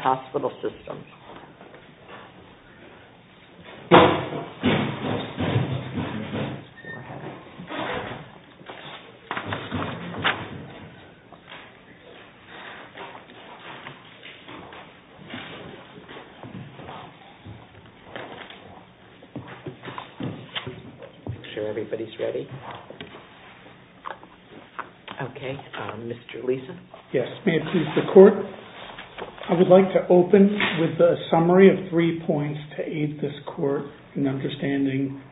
Hospital Systems. I would like to open with a summary of three points to aid this Court in understanding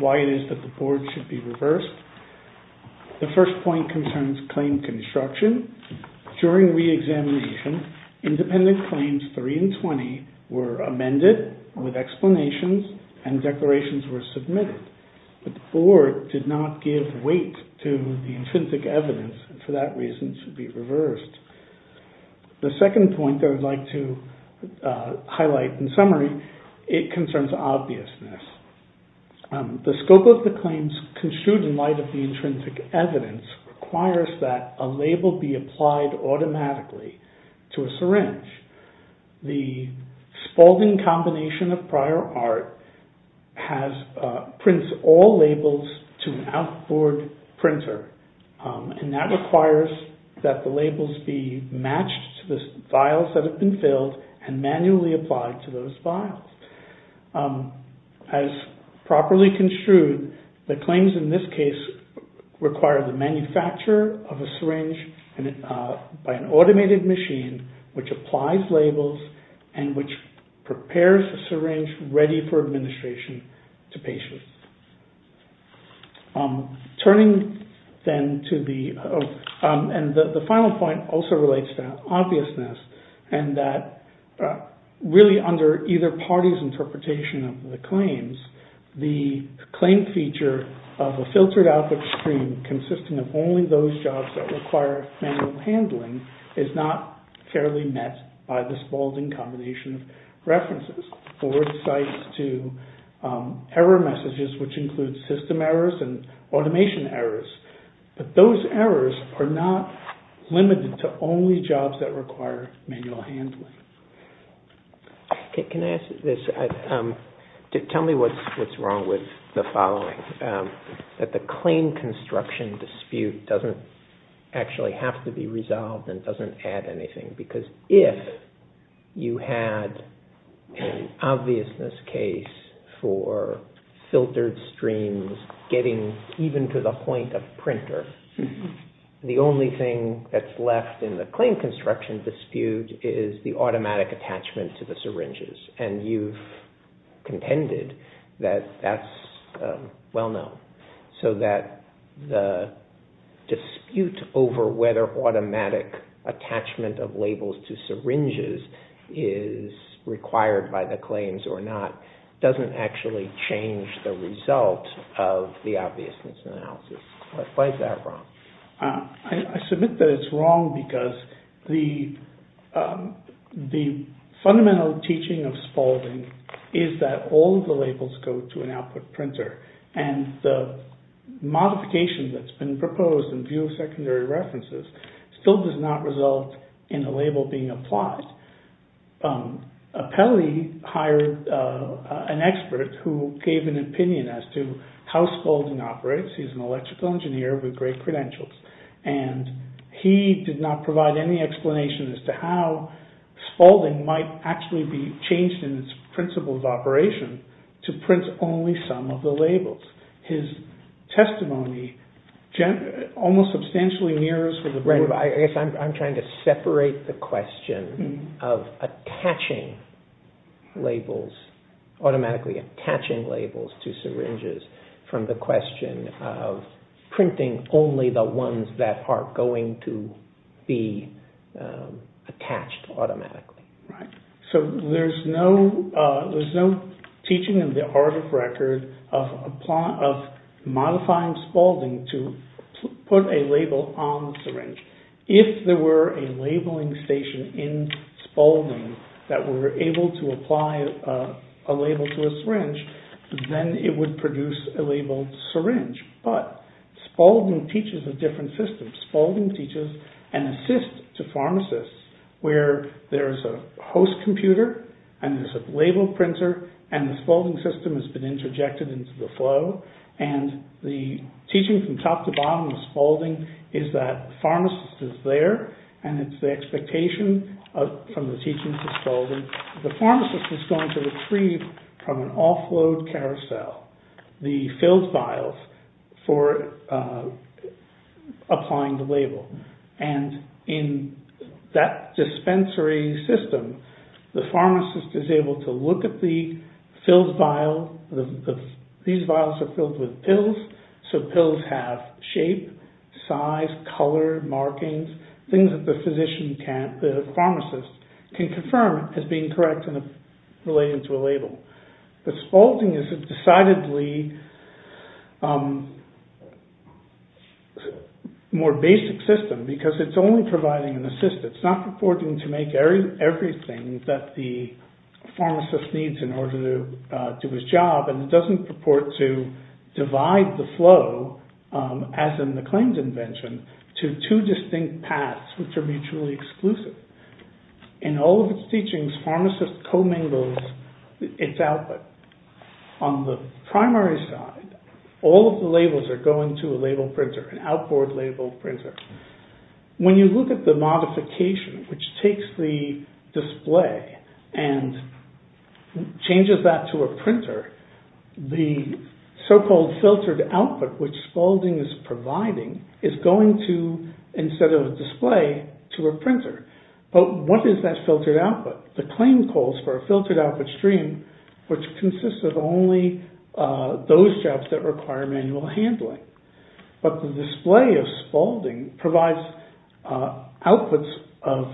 why it is that the Board should be reversed. The first point concerns claim construction. During re-examination, independent claims 3 and 20 were amended with explanations and declarations were submitted, but the Board did not give weight to the intrinsic evidence and for that reason should be reversed. The second point that I would like to highlight in summary, it concerns obviousness. The scope of the claims construed in light of the intrinsic evidence requires that a label be applied automatically to a syringe. The Spaulding combination of prior art prints all labels to an outboard printer, and that requires that the labels be matched to the vials that have been filled and manually applied to those vials. As properly construed, the claims in this case require the manufacture of a syringe by an automated machine which applies labels and which prepares a syringe ready for administration to patients. The final point also relates to obviousness and that really under either party's interpretation of the claims, the claim feature of a filtered output stream consisting of only those jobs that require manual handling is not fairly met by the Spaulding combination of references or sites to error messages which include system errors and automation errors. But those errors are not limited to only jobs that require manual handling. Can I ask this? Tell me what's wrong with the following, that the claim construction dispute doesn't actually have to be resolved and doesn't add anything because if you had an obviousness case for filtered streams getting even to the point of printer, the only thing that's left in the claim construction dispute is the automatic attachment to the syringes and you've contended that that's well known. So that the dispute over whether automatic attachment of labels to syringes is required by the claims or not doesn't actually change the result of the obviousness analysis. Why is that wrong? I submit that it's wrong because the fundamental teaching of Spaulding is that all of the labels go to an output printer and the modification that's been proposed in view of secondary references still does not result in a label being applied. Apelli hired an expert who gave an opinion as to how Spaulding operates. He's an electrical engineer with great credentials and he did not provide any explanation as to how Spaulding might actually be changed in its principle of operation to print only some of the labels. His testimony almost substantially mirrors what the board of directors said. I'm trying to separate the question of attaching labels, automatically attaching labels to syringes from the question of printing only the ones that are going to be attached automatically. So there's no teaching in the art of record of modifying Spaulding to put a label on the syringe. If there were a labeling station in Spaulding that were able to apply a label to a syringe, then it would produce a labeled syringe. But Spaulding teaches a different way. There's a host computer and there's a label printer and the Spaulding system has been interjected into the flow and the teaching from top to bottom of Spaulding is that pharmacist is there and it's the expectation from the teaching of Spaulding. The pharmacist is going to retrieve from an offload carousel the filled vials for applying the label. And in that dispensary system, the pharmacist is able to look at the filled vial. These vials are filled with pills, so pills have shape, size, color, markings, things that the pharmacist can confirm as being correct and related to a label. But Spaulding is a decidedly more complex system. It's going to make everything that the pharmacist needs in order to do his job and it doesn't purport to divide the flow, as in the claims invention, to two distinct paths which are mutually exclusive. In all of its teachings, pharmacist co-mingles its output. On the primary side, all of the labels are going to a label printer, an outboard label printer. When you look at the modification which takes the display and changes that to a printer, the so-called filtered output which Spaulding is providing is going to, instead of a display, to a printer. But what is that filtered output? The claim calls for a filtered output stream which consists of only those jobs that require manual handling. But the Spaulding provides outputs of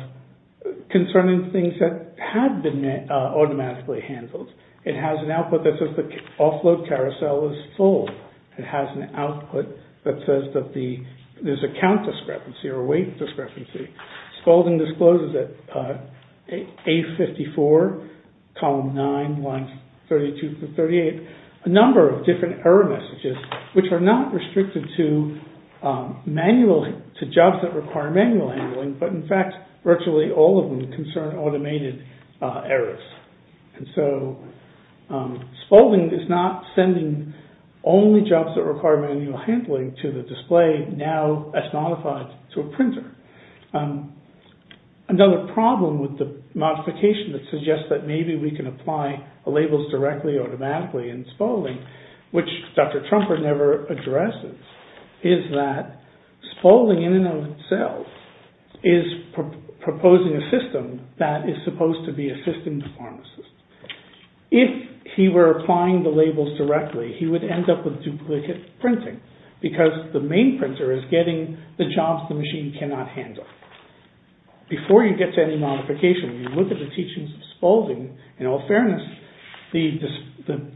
concerning things that have been automatically handled. It has an output that says the offload carousel is full. It has an output that says that there's a count discrepancy or a weight discrepancy. Spaulding discloses at page 54, column 9, lines 32 through 38, a number of different error messages which are not restricted to jobs that require manual handling. But in fact, virtually all of them concern automated errors. And so Spaulding is not sending only jobs that require manual handling to the display now as modified to a printer. Another problem with the modification that suggests that maybe we can apply the labels directly automatically in Spaulding which Dr. Trumper never addresses is that Spaulding in and of itself is proposing a system that is supposed to be assisting the pharmacist. If he were applying the labels directly, he would end up with duplicate printing because the main printer is getting the jobs the machine cannot handle. Before you get to any modification, you look at the teachings of Spaulding, in all fairness, the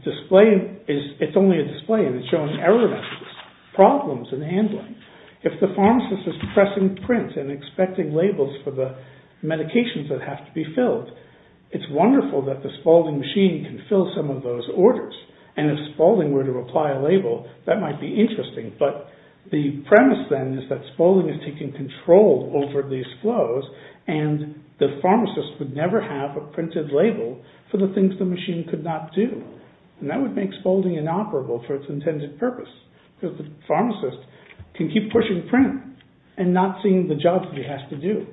display is it's only a display and it's showing error messages, problems in handling. If the pharmacist is pressing print and expecting labels for the medications that have to be filled, it's wonderful that the Spaulding machine can fill some of those orders. And if Spaulding were to apply a label, that might be interesting. But the premise then is that Spaulding is something that the machine can control over these flows and the pharmacist would never have a printed label for the things the machine could not do. And that would make Spaulding inoperable for its intended purpose because the pharmacist can keep pushing print and not seeing the jobs he has to do.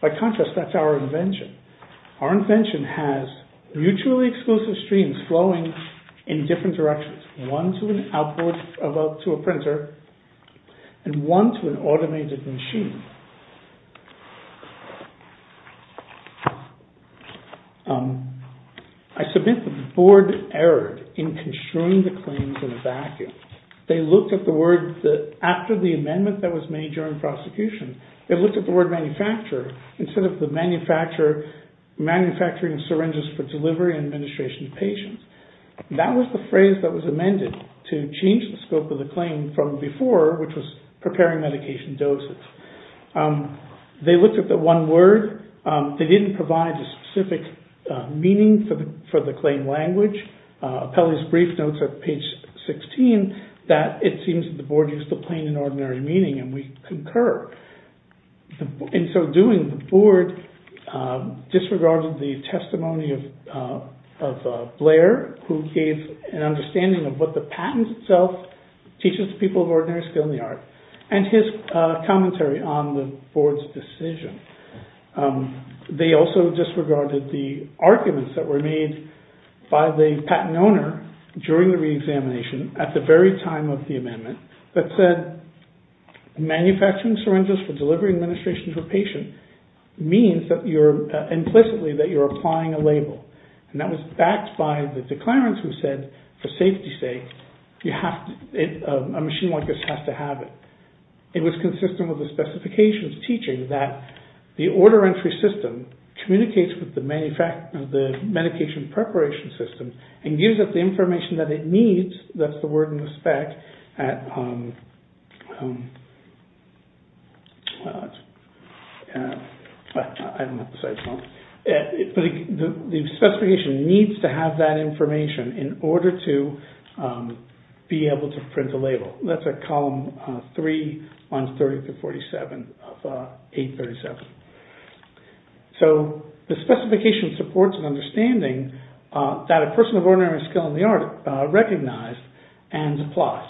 By contrast, that's our invention. Our invention has mutually exclusive streams flowing in different directions, one to an output to a printer and one to an automated machine. I submit that the board erred in construing the claims in a vacuum. They looked at the word that after the amendment that was made during prosecution, they looked at the word manufacturer instead of the manufacturer manufacturing syringes for delivery and administration of patients. That was the phrase that was amended to change the scope of the claim from before, which was preparing medication doses. They looked at the one word. They didn't provide a specific meaning for the claim language. Pelley's brief notes at page 16 that it seems that the board used the plain and ordinary meaning and we concur. And so doing the board disregarded the testimony of Blair who gave an understanding of what the patent itself teaches people of ordinary skill in the art and his commentary on the board's decision. They also disregarded the arguments that were made by the patent owner during the re-examination at the very time of the amendment that said manufacturing syringes for delivery and administration for patient means that you're implicitly that you're applying a label. And that was backed by the declarants who said, for safety's sake, a machine like this has to have it. It was consistent with the specifications teaching that the order entry system communicates with the medication preparation system and gives it the information that it needs, that's the word in the spec at, well, I don't have to spell it, but the specification needs to have that information in order to be able to print a label. That's at column 3, lines 30 through 47 of 837. So the specification supports an understanding that a person of ordinary skill in the art recognized and applied.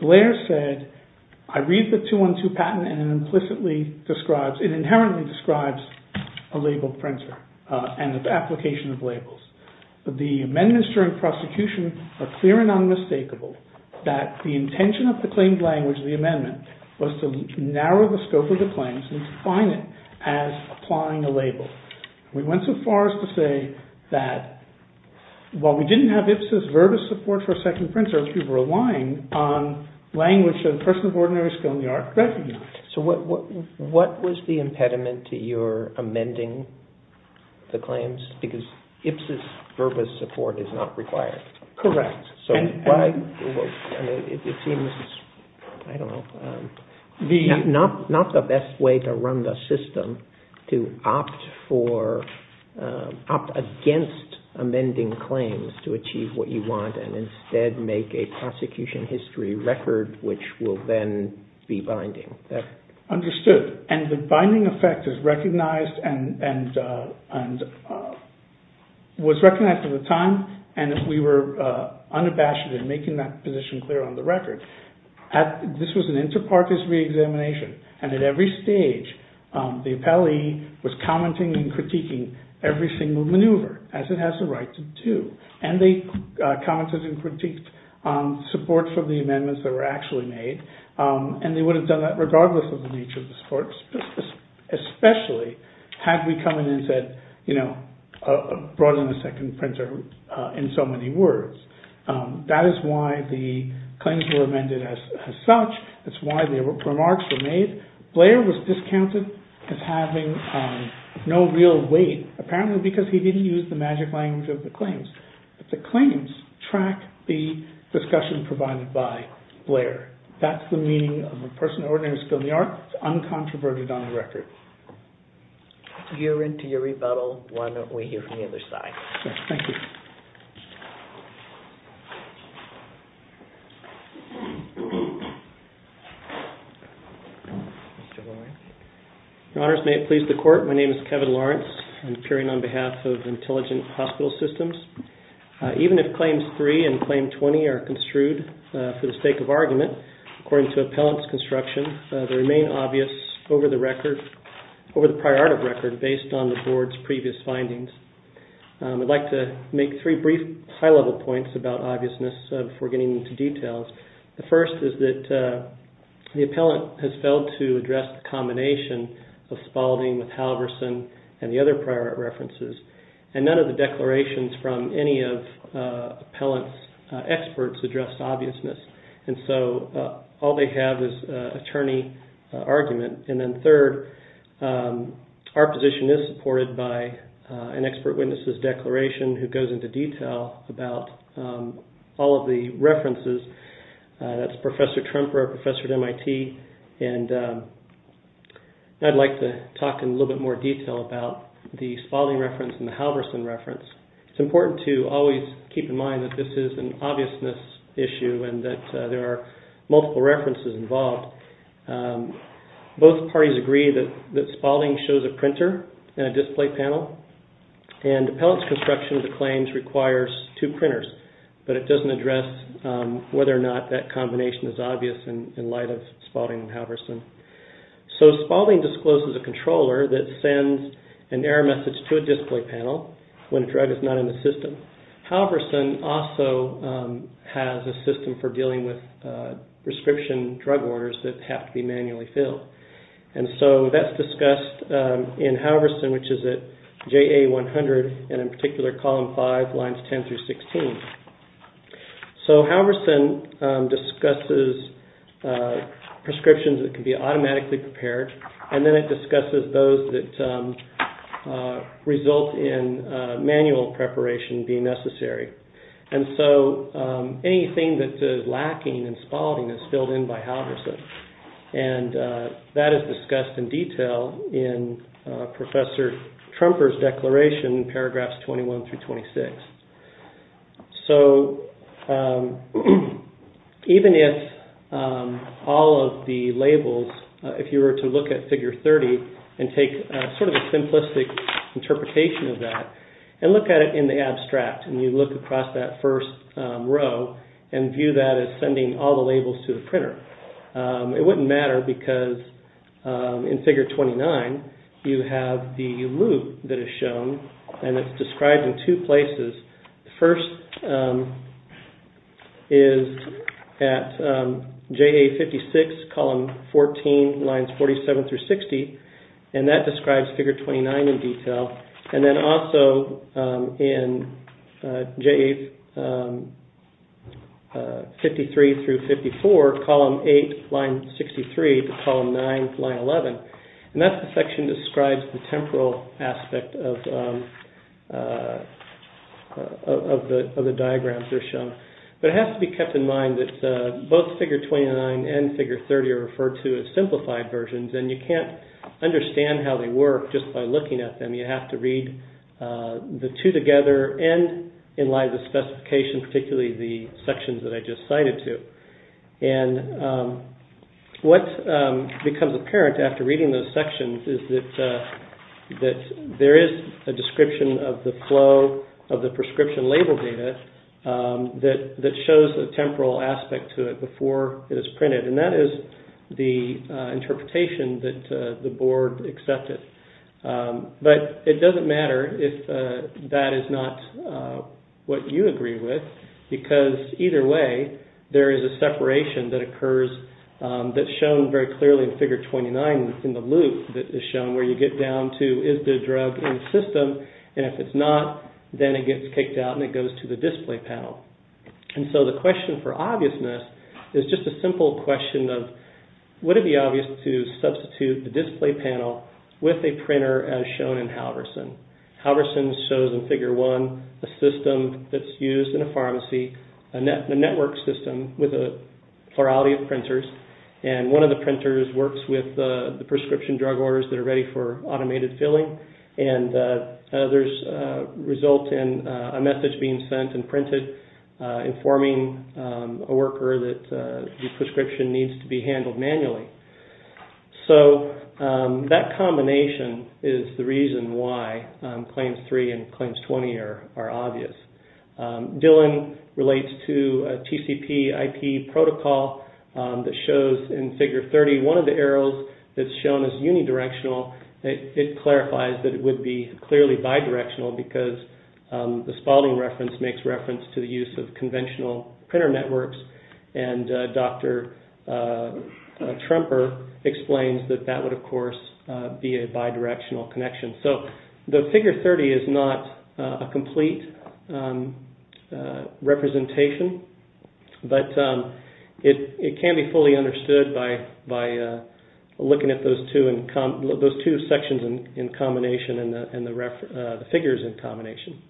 Blair said, I read the 212 patent and it implicitly describes, it inherently describes a labeled printer and the application of labels. The amendments during prosecution are clear and unmistakable that the intention of the claimed language of the amendment was to narrow the scope of the claims and define it as applying a label. We went so far as to say that while we didn't have IPSS's verbose support for a second printer, we were relying on language that a person of ordinary skill in the art recognized. So what was the impediment to your amending the claims? Because IPSS's verbose support is not required. Correct. So why, it seems, I don't know, not the best way to run the system to opt for, opt against amending claims to achieve what you want and instead make a prosecution history record which will then be binding. Understood. And the binding effect is recognized and was recognized at the time and we were unabashed in making that position clear on the record. This was an inter-parties re-examination and at every stage the appellee was commenting and critiquing every single maneuver as it has the right to do. And they commented and actually made, and they would have done that regardless of the nature of the support, especially had we come in and said, you know, brought in a second printer in so many words. That is why the claims were amended as such. That's why the remarks were made. Blair was discounted as having no real weight, apparently because he didn't use the magic language of the claims. The claims track the discussion provided by Blair. That's the meaning of a person ordained to a skill in the arts, uncontroverted on the record. You're into your rebuttal, why don't we hear from the other side. Thank you. Your Honors, may it please the Court, my name is John McClain. Even if Claims 3 and Claim 20 are construed for the sake of argument, according to appellant's construction, they remain obvious over the record, over the prior art of record based on the Board's previous findings. I'd like to make three brief high level points about obviousness before getting into details. The first is that the appellant has failed to address the combination of Spalding with Halverson and the other prior art references and none of the declarations from any of the appellant's experts addressed obviousness. All they have is attorney argument. And then third, our position is supported by an expert witnesses declaration that goes into detail about all of the references. That's Professor Trumper, a professor at MIT. I'd like to talk in a little bit more detail about the Spalding reference and the Halverson reference. It's important to always keep in mind that this is an obviousness issue and that there are multiple references involved. Both parties agree that Spalding shows a printer and a display panel and appellant's construction of the claims requires two printers, but it doesn't address whether or not that combination is obvious in light of Spalding and Halverson. So Spalding discloses a controller that sends an error message to a display panel when a drug is not in the system. Halverson also has a system for dealing with prescription drug orders that have to be manually filled. And so that's discussed in Halverson, which is at JA 100 and in particular column 5, lines 10 through 16. So Halverson discusses prescriptions that can be automatically prepared and then discusses those that result in manual preparation being necessary. And so anything that is lacking in Spalding is filled in by Halverson. And that is discussed in detail in Professor Trumper's declaration paragraphs 21 through 26. So even if all of the labels, if you were to look at figure 30 and take sort of a simplistic interpretation of that and look at it in the abstract and you look across that first row and view that as sending all the labels to the printer, it wouldn't matter because in figure 29 you have the loop that is shown and it's described in two places. The first is at JA 56, column 14, lines 47 through 18. And that describes figure 29 in detail. And then also in JA 53 through 54, column 8, line 63, column 9, line 11. And that section describes the temporal aspect of the diagrams that are shown. But it has to be kept in mind that both figure 29 and figure 30 are referred to as simplified versions and you can't understand how they work just by looking at them. You have to read the two together and in line with the specifications, particularly the sections that I just cited to. And what becomes apparent after reading those sections is that there is a description of the flow of the prescription label data that shows the temporal aspect to it before it is printed. And that is the interpretation that the board accepted. But it doesn't matter if that is not what you agree with because either way there is a separation that occurs that's shown very clearly in figure 29 in the loop that is shown where you get down to is the drug in the system and if it's not then it gets kicked out and goes to the display panel. And so the question for obviousness is just a simple question of would it be obvious to substitute the display panel with a printer as shown in Halverson. Halverson shows in figure 1 a system that's used in a pharmacy, a network system with a plurality of printers and one of the printers works with the prescription drug orders that are being sent and printed informing a worker that the prescription needs to be handled manually. So that combination is the reason why claims 3 and claims 20 are obvious. Dillon relates to a TCP IP protocol that shows in figure 30 one of the arrows that's shown as unidirectional. It clarifies that it would be clearly bidirectional because the Spalding reference makes reference to the use of conventional printer networks and Dr. Trumper explains that that would of course be a bidirectional connection. So the figure 30 is not a complete representation, but it can be fully understood by looking at those two sections in combination and the figures in combination.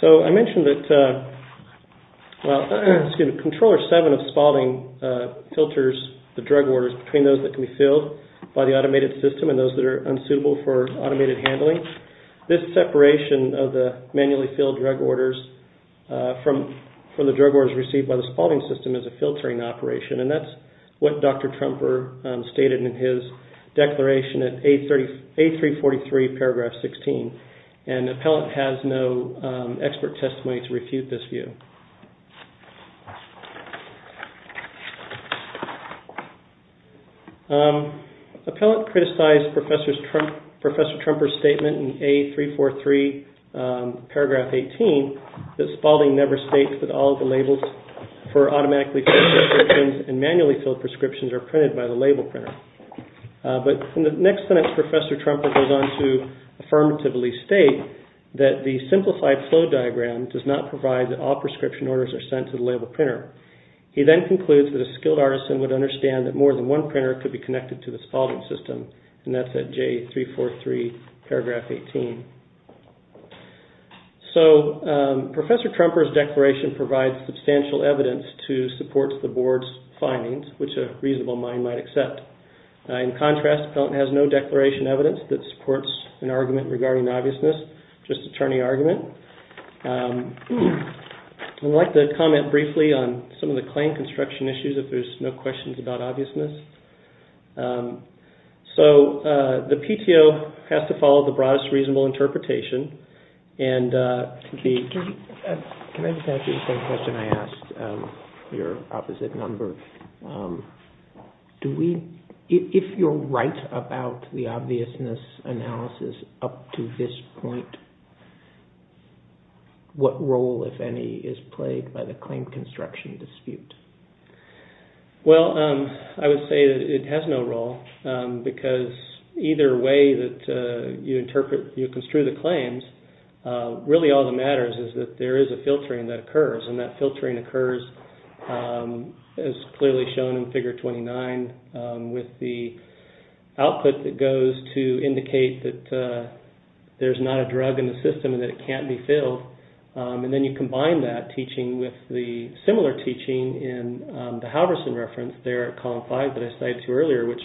So I mentioned that, well, excuse me, controller 7 of Spalding filters the drug orders between those that can be filled by the automated system and those that are unsuitable for automated handling. This separation of the manually filled drug orders from the drug orders received by the Spalding system is a filtering operation and that's what Dr. Trumper stated in his declaration at A343 paragraph 16 and Appellate has no expert testimony to refute this view. Appellate criticized Professor Trumper's statement in A343 paragraph 18 that Spalding never states that all the labels for automatically filled prescriptions and manually filled prescriptions are printed by the label printer. But in the next sentence, Professor Trumper goes on to affirmatively state that the simplified flow diagram does not provide that all prescription orders are sent to the label printer. He then concludes that a skilled artisan would understand that more than one printer could be connected to the Spalding system and that's at J343 paragraph 18. So Professor Trumper's declaration provides substantial evidence to support the board's findings which a reasonable mind might accept. In contrast, Appellate has no declaration evidence that supports an argument regarding obviousness, just attorney argument. I'd like to comment briefly on some of the claim construction issues if there's no questions about obviousness. So the PTO has to follow the broadest reasonable interpretation and the... Can I just ask you the same question I asked your opposite number? If you're right about the obviousness analysis up to this point, what role, if any, is played by the claim construction dispute? Well, I would say that it has no role because either way that you interpret, you construe the claims, really all that matters is that there is a filtering that occurs and that filtering occurs as clearly shown in figure 29 with the output that goes to indicate that there's not a drug in the system and that it can't be filled. And then you combine that teaching with the similar teaching in the Halverson reference there at column five that I cited to you earlier which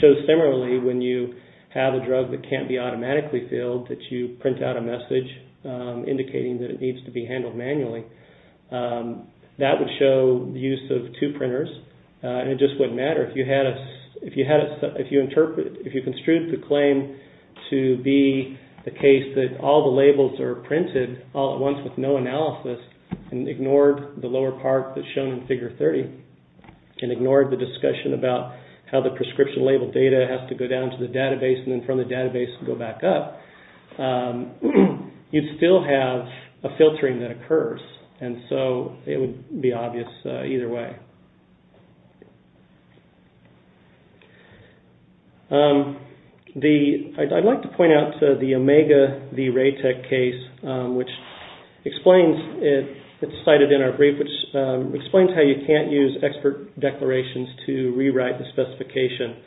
shows similarly when you have a drug that can't be automatically filled that you print out a message indicating that it needs to be handled manually. That would show the use of two printers and it just wouldn't matter if you construe the claim to be the case that all the labels are printed all at once with no analysis and ignored the lower part that's shown in figure 30 and ignored the discussion about how the prescription label data has to go down to the database and then from the database go back up. You'd still have a filtering that occurs and so it would be obvious either way. I'd like to point out the Omega v. Raytech case which explains, it's cited in our brief, which explains how you can't use expert declarations to rewrite the specification.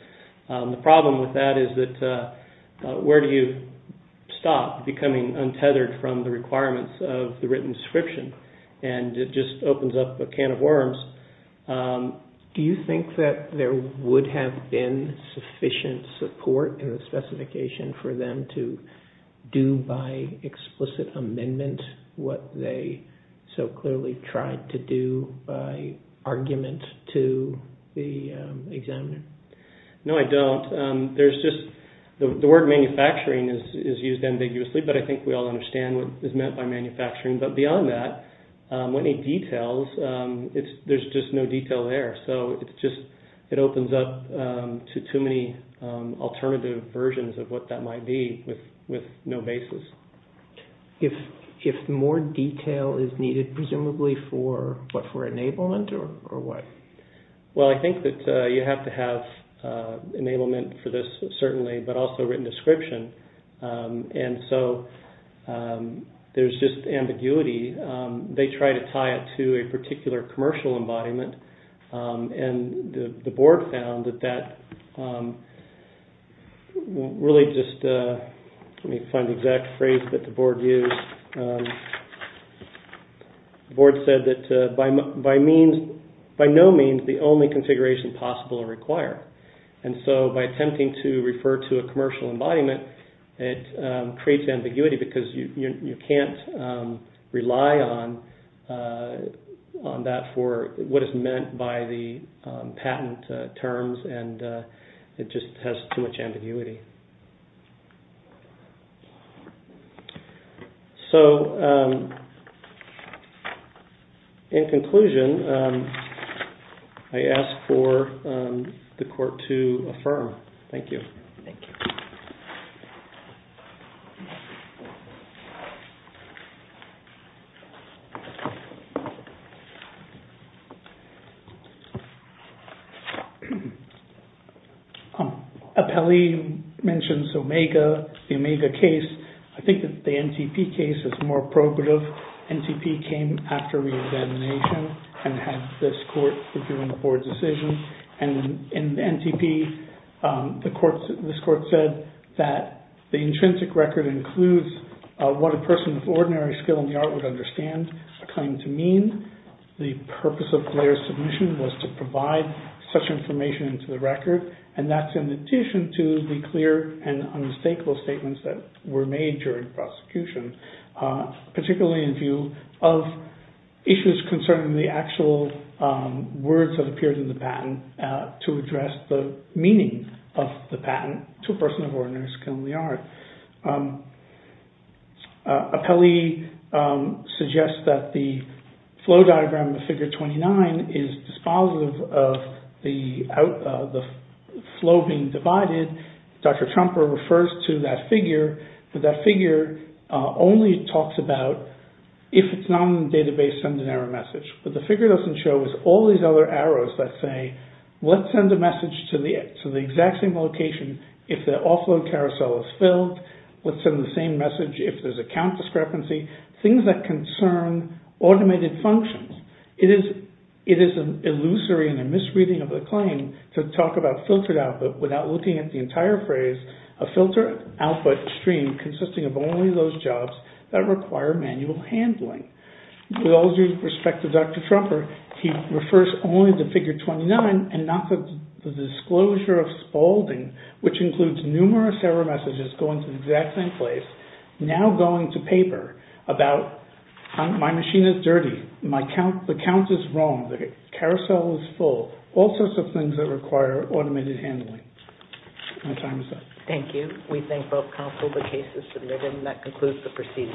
The problem with that is that where do you stop becoming untethered from the requirements of the written description and it just opens up a can of worms. Do you think that there would have been sufficient support in the specification for them to do by explicit amendment what they so clearly tried to do by argument to the examiner? No, I don't. The word manufacturing is used ambiguously, but I think we all understand what is meant by manufacturing, but beyond that, when it details, there's just no detail there. It opens up to too many alternative versions of what that might be with no basis. If more detail is needed presumably for enablement or what? Well, I think that you have to have enablement for this certainly, but also written description and so there's just ambiguity. They try to tie it to a particular commercial embodiment and the board found that that really just, let me find the exact phrase that the board used. The board said that by no means the only configuration possible or required and so by attempting to refer to a commercial embodiment, it creates ambiguity because you can't rely on that for what is meant by the patent terms and it just has too much ambiguity. So, in conclusion, I ask for the court to affirm. Thank you. Apelli mentions Omega, the Omega case. I think that the NTP case is more appropriate. NTP came after re-examination and had this court reviewing the board's decision and in NTP, this court said that the intrinsic record includes what a person with ordinary skill in the art would understand a claim to mean. The purpose of Blair's submission was to provide such information to the record and that's in addition to the clear and unmistakable statements that were made during prosecution. Particularly in view of issues concerning the actual words that appeared in the patent to address the meaning of the patent to a person of ordinary skill in the art. So, Apelli suggests that the flow diagram of Figure 29 is dispositive of the flow being divided. Dr. Trumper refers to that figure. The figure doesn't show all these other arrows that say, let's send a message to the exact same location if the offload carousel is filled. Let's send the same message if there's a count discrepancy. Things that concern automated functions. It is an illusory and a misreading of the claim to talk about filtered output without looking at the entire phrase, a filter output stream consisting of only those jobs that require manual handling. With all due respect to Dr. Trumper, he refers only to Figure 29 and not to the disclosure of Spaulding, which includes numerous error messages going to the exact same place, now going to paper about my machine is dirty, the count is wrong, the carousel is full, all sorts of things that require automated handling. My time is up. Thank you. We thank both counsel the case is submitted and that concludes the proceedings for this morning.